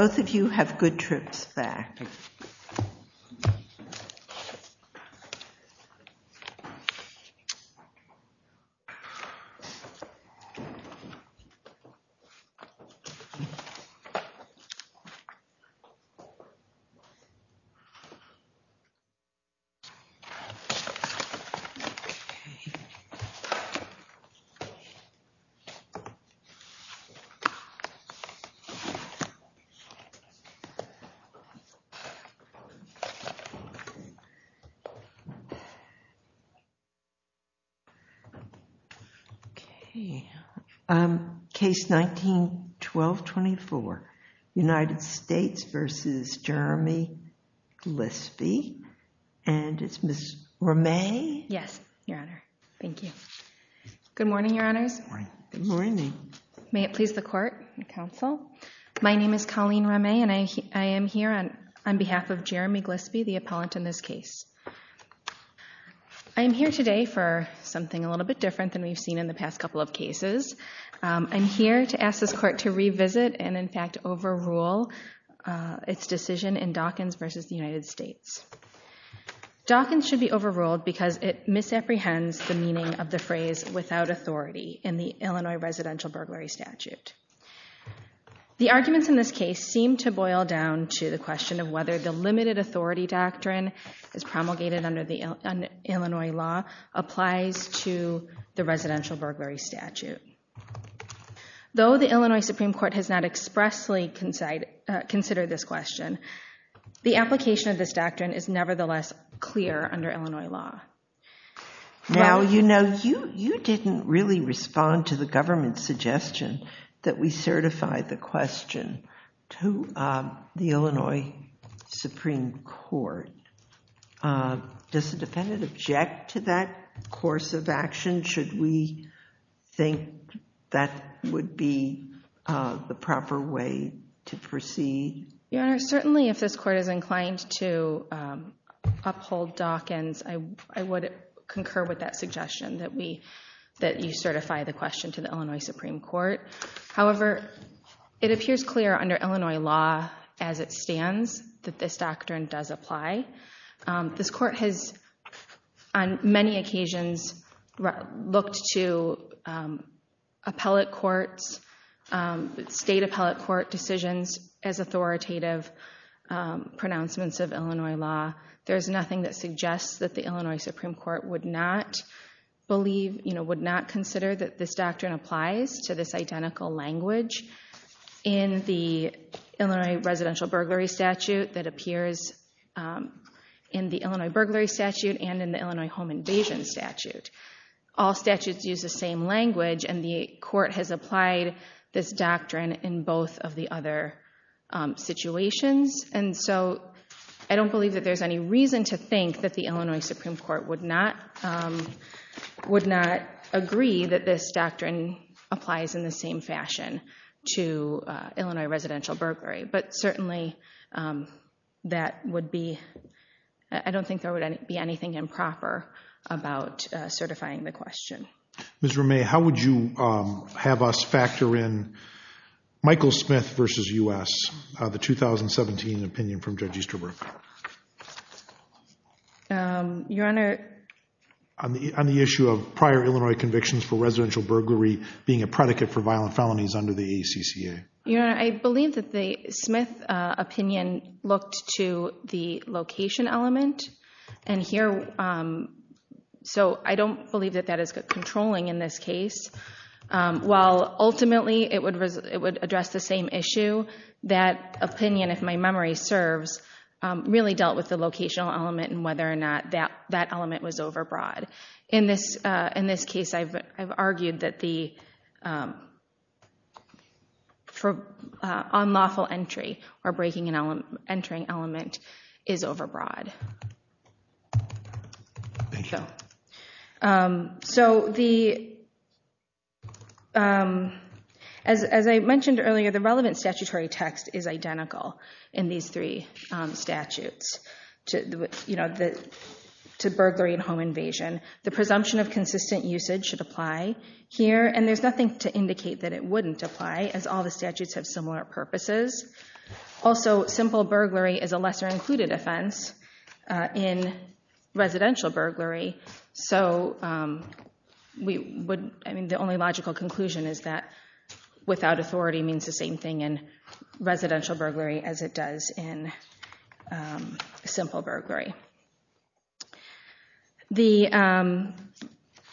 Both of you have good trips back. Okay. Case 19-1224, United States v. Jeremy Glispie, and it's Ms. Ramee. Yes, Your Honor. Thank you. Good morning, Your Honors. Good morning. May it please the Court and Counsel. My name is Colleen Ramee, and I am here on behalf of Jeremy Glispie, the appellant in this case. I am here today for something a little bit different than we've seen in the past couple of cases. I'm here to ask this Court to revisit and in fact overrule its decision in Dawkins v. United States. Dawkins should be overruled because it misapprehends the meaning of the phrase without authority in the Illinois residential burglary statute. The arguments in this case seem to boil down to the question of whether the limited authority doctrine as promulgated under the Illinois law applies to the residential burglary statute. Though the Illinois Supreme Court has not expressly considered this question, the application of this doctrine is nevertheless clear under Illinois law. Now, you know, you didn't really respond to the government's suggestion that we certify the question to the Illinois Supreme Court. Does the defendant object to that course of action? Should we think that would be the proper way to proceed? Your Honor, certainly if this Court is inclined to uphold Dawkins, I would concur with that suggestion that you certify the question to the Illinois Supreme Court. However, it appears clear under Illinois law as it stands that this doctrine does apply. This Court has on many occasions looked to appellate courts, state appellate court decisions, as authoritative pronouncements of Illinois law. There's nothing that suggests that the Illinois Supreme Court would not believe, you know, would not consider that this doctrine applies to this identical language in the Illinois residential burglary statute that appears in the Illinois burglary statute and in the Illinois home invasion statute. All statutes use the same language, and the Court has applied this doctrine in both of the other situations. And so I don't believe that there's any reason to think that the Illinois Supreme Court would not agree that this doctrine applies in the same fashion to Illinois residential burglary. But certainly that would be, I don't think there would be anything improper about certifying the question. Ms. Romay, how would you have us factor in Michael Smith v. U.S., the 2017 opinion from Judge Easterbrook? Your Honor? On the issue of prior Illinois convictions for residential burglary being a predicate for violent felonies under the ACCA. Your Honor, I believe that the Smith opinion looked to the location element. And here, so I don't believe that that is controlling in this case. While ultimately it would address the same issue, that opinion, if my memory serves, really dealt with the locational element and whether or not that element was overbroad. In this case, I've argued that the unlawful entry or breaking and entering element is overbroad. Thank you. So, as I mentioned earlier, the relevant statutory text is identical in these three statutes to burglary and home invasion. The presumption of consistent usage should apply here. And there's nothing to indicate that it wouldn't apply, as all the statutes have similar purposes. Also, simple burglary is a lesser included offense in residential burglary. So, the only logical conclusion is that without authority means the same thing in residential burglary as it does in simple burglary.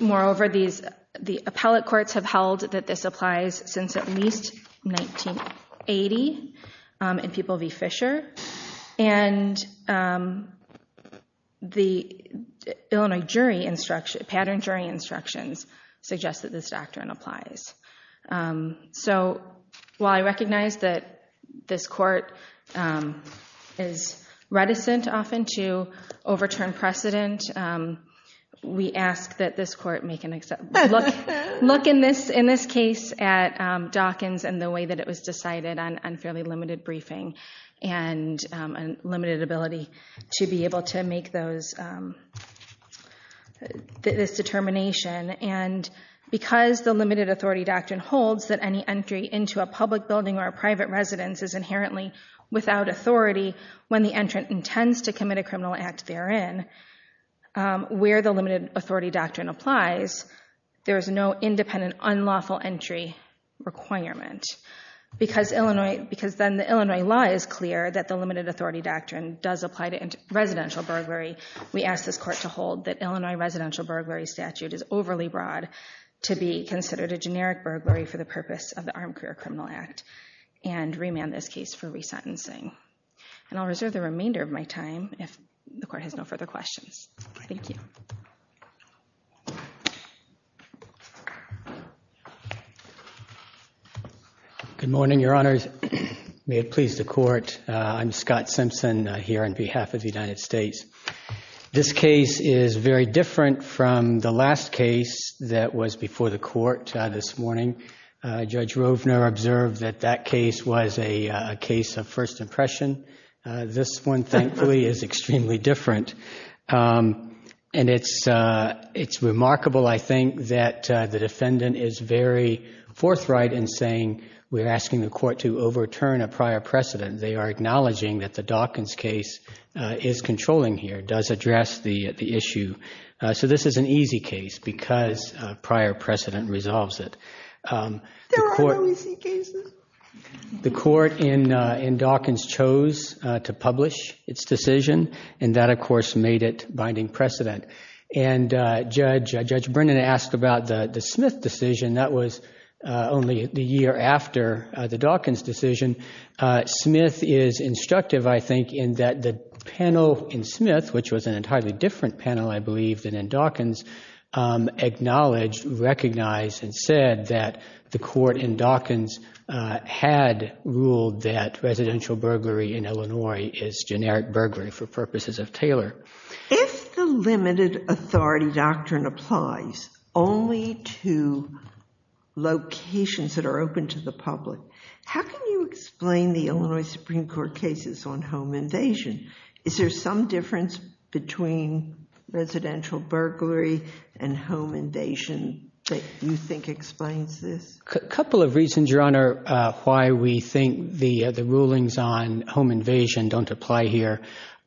Moreover, the appellate courts have held that this applies since at least 1980 in People v. Fisher. And the Illinois jury instruction, pattern jury instructions, suggest that this doctrine applies. So, while I recognize that this court is reticent often to overturn precedent, we ask that this court look in this case at Dawkins and the way that it was decided on fairly limited briefing and limited ability to be able to make this determination. And because the limited authority doctrine holds that any entry into a public building or a private residence is inherently without authority when the entrant intends to commit a criminal act therein, where the limited authority doctrine applies, there is no independent unlawful entry requirement. Because then the Illinois law is clear that the limited authority doctrine does apply to residential burglary, we ask this court to hold that Illinois residential burglary statute is overly broad to be considered a generic burglary for the purpose of the Armed Career Criminal Act and remand this case for resentencing. And I'll reserve the remainder of my time if the court has no further questions. Thank you. Good morning, Your Honors. May it please the court. I'm Scott Simpson here on behalf of the United States. This case is very different from the last case that was before the court this morning. Judge Rovner observed that that case was a case of first impression. This one, thankfully, is extremely different. And it's remarkable, I think, that the defendant is very forthright in saying we're asking the court to overturn a prior precedent. They are acknowledging that the Dawkins case is controlling here, does address the issue. So this is an easy case because prior precedent resolves it. There are other easy cases. The court in Dawkins chose to publish its decision, and that, of course, made it binding precedent. And Judge Brennan asked about the Smith decision. That was only the year after the Dawkins decision. Smith is instructive, I think, in that the panel in Smith, which was an entirely different panel, I believe, than in Dawkins, acknowledged, recognized, and said that the court in Dawkins had ruled that residential burglary in Illinois is generic burglary for purposes of Taylor. If the limited authority doctrine applies only to locations that are open to the public, how can you explain the Illinois Supreme Court cases on home invasion? Is there some difference between residential burglary and home invasion that you think explains this? A couple of reasons, Your Honor, why we think the rulings on home invasion don't apply here.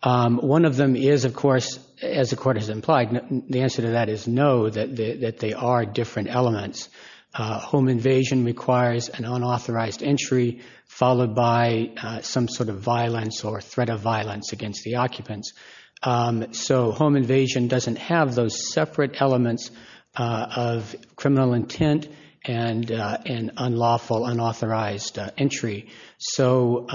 One of them is, of course, as the court has implied, the answer to that is no, that they are different elements. Home invasion requires an unauthorized entry followed by some sort of violence or threat of violence against the occupants. So home invasion doesn't have those separate elements of criminal intent and unlawful, unauthorized entry. So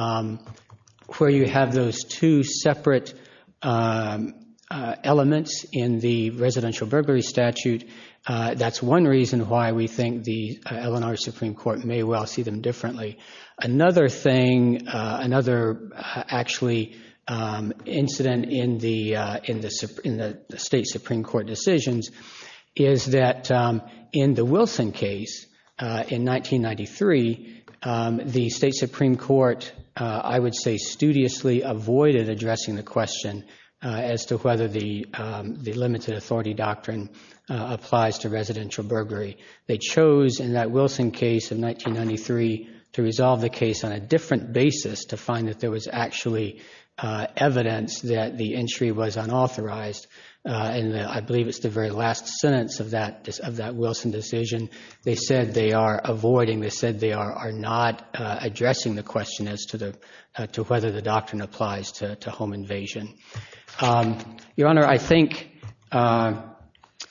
where you have those two separate elements in the residential burglary statute, that's one reason why we think the Illinois Supreme Court may well see them differently. Another thing, another actually incident in the state Supreme Court decisions is that in the Wilson case in 1993, the state Supreme Court, I would say, studiously avoided addressing the question as to whether the limited authority doctrine applies to residential burglary. They chose in that Wilson case in 1993 to resolve the case on a different basis to find that there was actually evidence that the entry was unauthorized and I believe it's the very last sentence of that Wilson decision. They said they are avoiding, they said they are not addressing the question as to whether the doctrine applies to home invasion. Your Honor, I think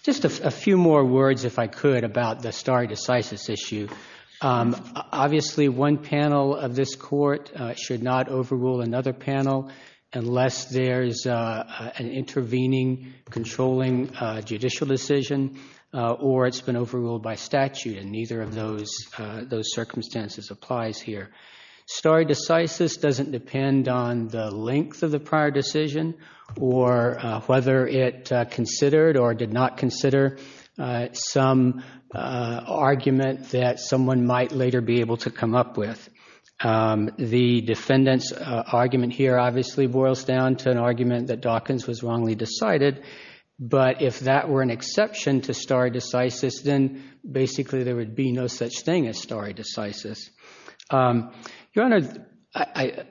just a few more words, if I could, about the stare decisis issue. Obviously, one panel of this Court should not overrule another panel unless there is an intervening, controlling judicial decision or it's been overruled by statute and neither of those circumstances applies here. Stare decisis doesn't depend on the length of the prior decision or whether it considered or did not consider some argument that someone might later be able to come up with. The defendant's argument here obviously boils down to an argument that Dawkins was wrongly decided, but if that were an exception to stare decisis, then basically there would be no such thing as stare decisis. Your Honor,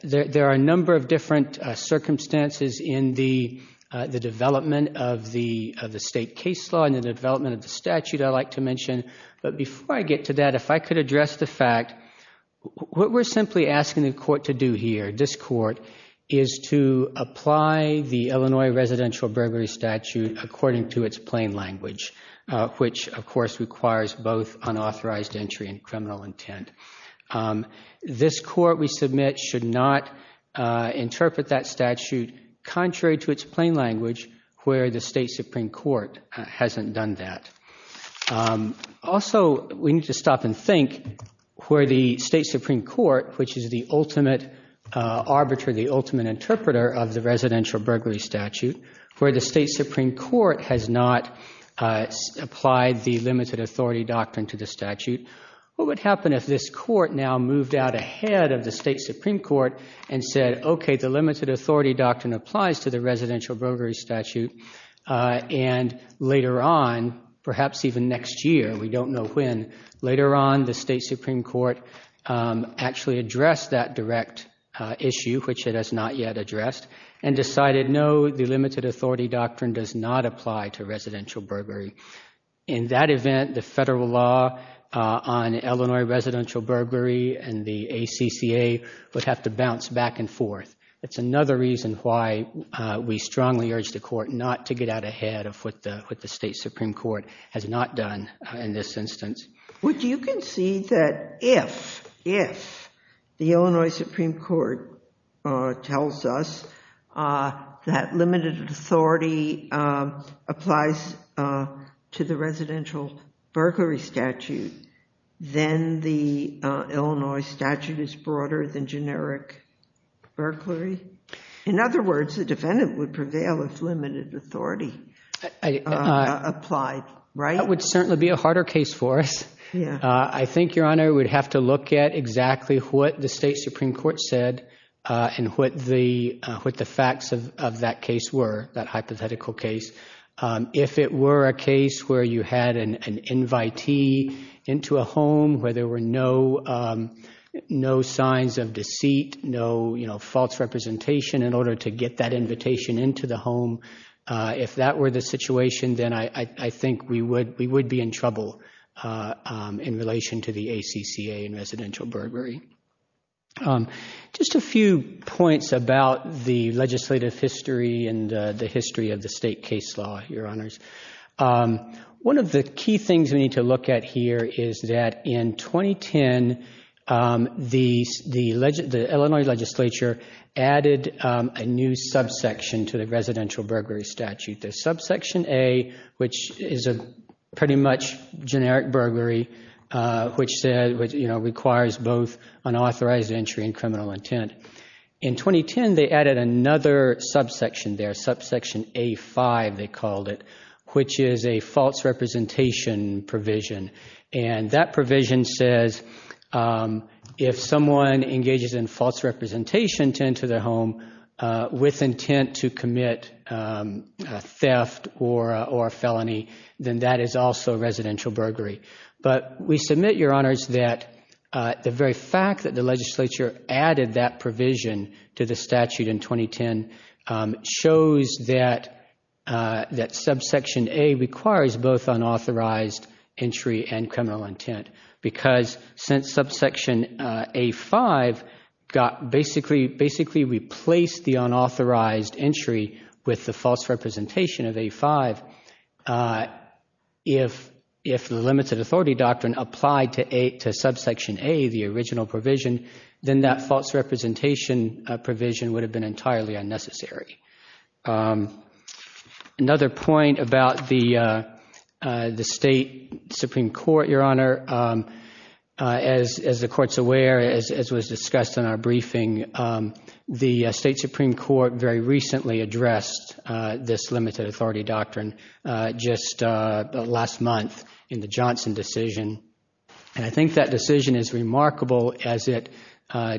there are a number of different circumstances in the development of the state case law and the development of the statute I like to mention, but before I get to that, if I could address the fact, what we are simply asking the Court to do here, this Court, is to apply the Illinois residential burglary statute according to its plain language, which of course requires both unauthorized entry and criminal intent. This Court, we submit, should not interpret that statute contrary to its plain language where the State Supreme Court hasn't done that. Also, we need to stop and think where the State Supreme Court, which is the ultimate arbiter, the ultimate interpreter of the residential burglary statute, where the State Supreme Court has not applied the limited authority doctrine to the statute, what would happen if this Court now moved out ahead of the State Supreme Court and said, okay, the limited authority doctrine applies to the residential burglary statute and later on, perhaps even next year, we don't know when, later on the State Supreme Court actually addressed that direct issue, which it has not yet addressed, and decided no, the limited authority doctrine does not apply to residential burglary. In that event, the federal law on Illinois residential burglary That's another reason why we strongly urge the Court not to get out ahead of what the State Supreme Court has not done in this instance. Would you concede that if the Illinois Supreme Court tells us that limited authority applies to the residential burglary statute, then the Illinois statute is broader than generic burglary? In other words, the defendant would prevail if limited authority applied, right? That would certainly be a harder case for us. I think, Your Honor, we'd have to look at exactly what the State Supreme Court said and what the facts of that case were, that hypothetical case. If it were a case where you had an invitee into a home where there were no signs of deceit, no false representation in order to get that invitation into the home, if that were the situation, then I think we would be in trouble in relation to the ACCA and residential burglary. Just a few points about the legislative history and the history of the state case law, Your Honors. One of the key things we need to look at here is that in 2010, the Illinois legislature added a new subsection to the residential burglary statute. The subsection A, which is a pretty much generic burglary, which requires both an authorized entry and criminal intent. In 2010, they added another subsection there, subsection A-5, they called it, which is a false representation provision. And that provision says if someone engages in false representation to enter their home with intent to commit theft or a felony, then that is also residential burglary. But we submit, Your Honors, that the very fact that the legislature added that provision to the statute in 2010 shows that subsection A requires both unauthorized entry and criminal intent because since subsection A-5 basically replaced the unauthorized entry with the false representation of A-5, if the limited authority doctrine applied to subsection A, the original provision, then that false representation provision would have been entirely unnecessary. Another point about the state Supreme Court, Your Honor. As the Court's aware, as was discussed in our briefing, the state Supreme Court very recently addressed this limited authority doctrine just last month in the Johnson decision. And I think that decision is remarkable as it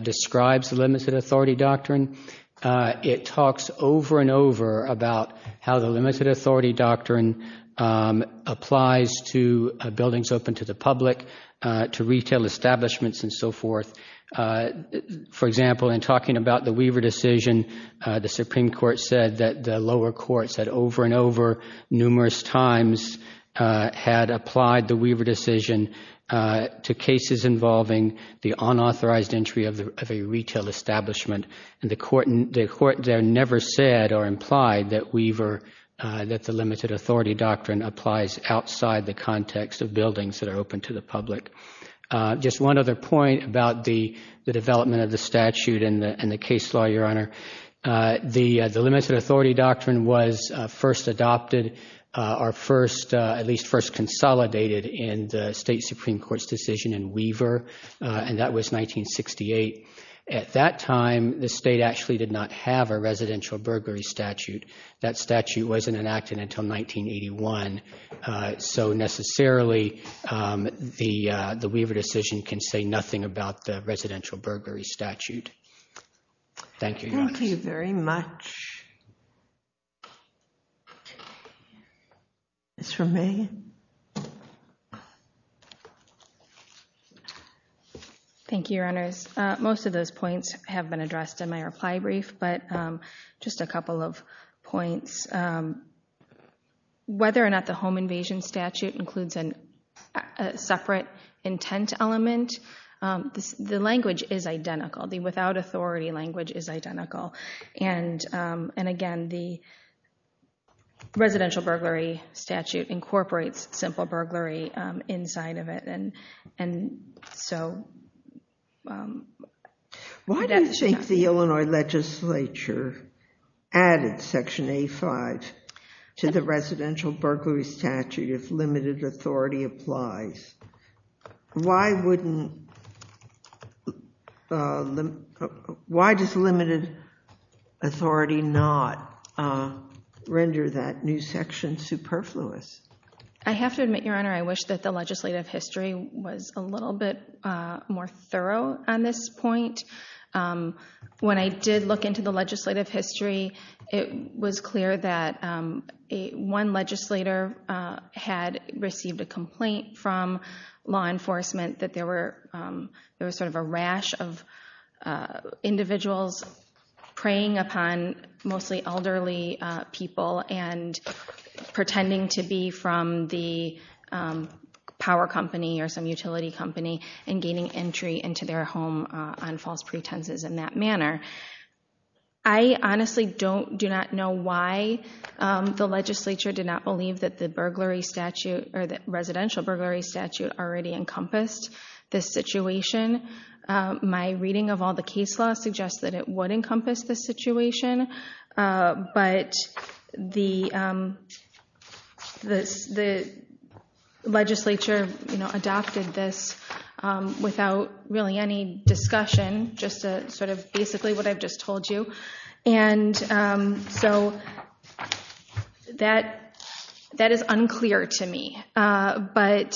describes the limited authority doctrine. It talks over and over about how the limited authority doctrine applies to buildings open to the public, to retail establishments and so forth. For example, in talking about the Weaver decision, the Supreme Court said that the lower courts had over and over numerous times had applied the Weaver decision to cases involving the unauthorized entry of a retail establishment. And the Court there never said or implied that Weaver, that the limited authority doctrine applies outside the context of buildings that are open to the public. Just one other point about the development of the statute and the case law, Your Honor. The limited authority doctrine was first adopted or first, at least first consolidated in the state Supreme Court's decision in Weaver, and that was 1968. At that time, the state actually did not have a residential burglary statute. That statute wasn't enacted until 1981. So necessarily, the Weaver decision can say nothing about the residential burglary statute. Thank you, Your Honor. Thank you very much. Ms. Romijn. Thank you, Your Honors. Most of those points have been addressed in my reply brief, but just a couple of points. Whether or not the home invasion statute includes a separate intent element, the language is identical. The without authority language is identical. And again, the residential burglary statute incorporates simple burglary inside of it. Why do you think the Illinois legislature added Section A5 to the residential burglary statute if limited authority applies? Why does limited authority not render that new section superfluous? I have to admit, Your Honor, I wish that the legislative history was a little bit more thorough on this point. When I did look into the legislative history, it was clear that one legislator had received a complaint from law enforcement that there was sort of a rash of individuals preying upon mostly elderly people and pretending to be from the power company or some utility company and gaining entry into their home on false pretenses in that manner. I honestly do not know why the legislature did not believe that the residential burglary statute already encompassed this situation. My reading of all the case laws suggests that it would encompass this situation, but the legislature adopted this without really any discussion, just sort of basically what I've just told you. And so that is unclear to me. But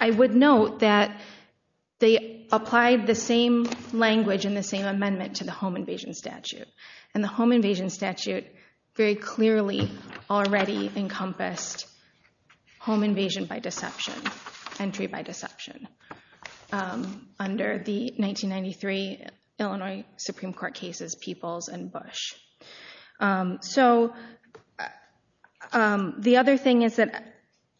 I would note that they applied the same language and the same amendment to the home invasion statute. And the home invasion statute very clearly already encompassed home invasion by deception, entry by deception, under the 1993 Illinois Supreme Court cases Peoples and Bush. So the other thing is that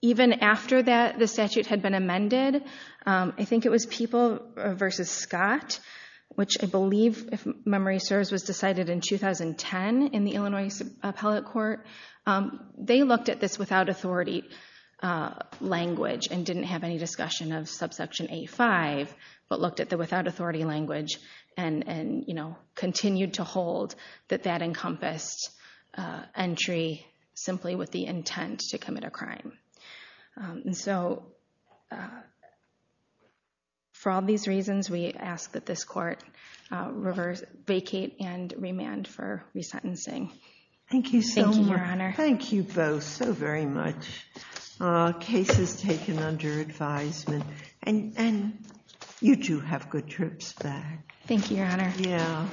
even after the statute had been amended, I think it was Peoples v. Scott, which I believe, if memory serves, was decided in 2010 in the Illinois Appellate Court, they looked at this without authority language and didn't have any discussion of subsection 85, but looked at the without authority language and continued to hold that that encompassed entry simply with the intent to commit a crime. And so for all these reasons, we ask that this court vacate and remand for resentencing. Thank you so much. Thank you, Your Honor. Thank you both so very much. Cases taken under advisement. And you two have good trips back. Thank you, Your Honor. Yeah.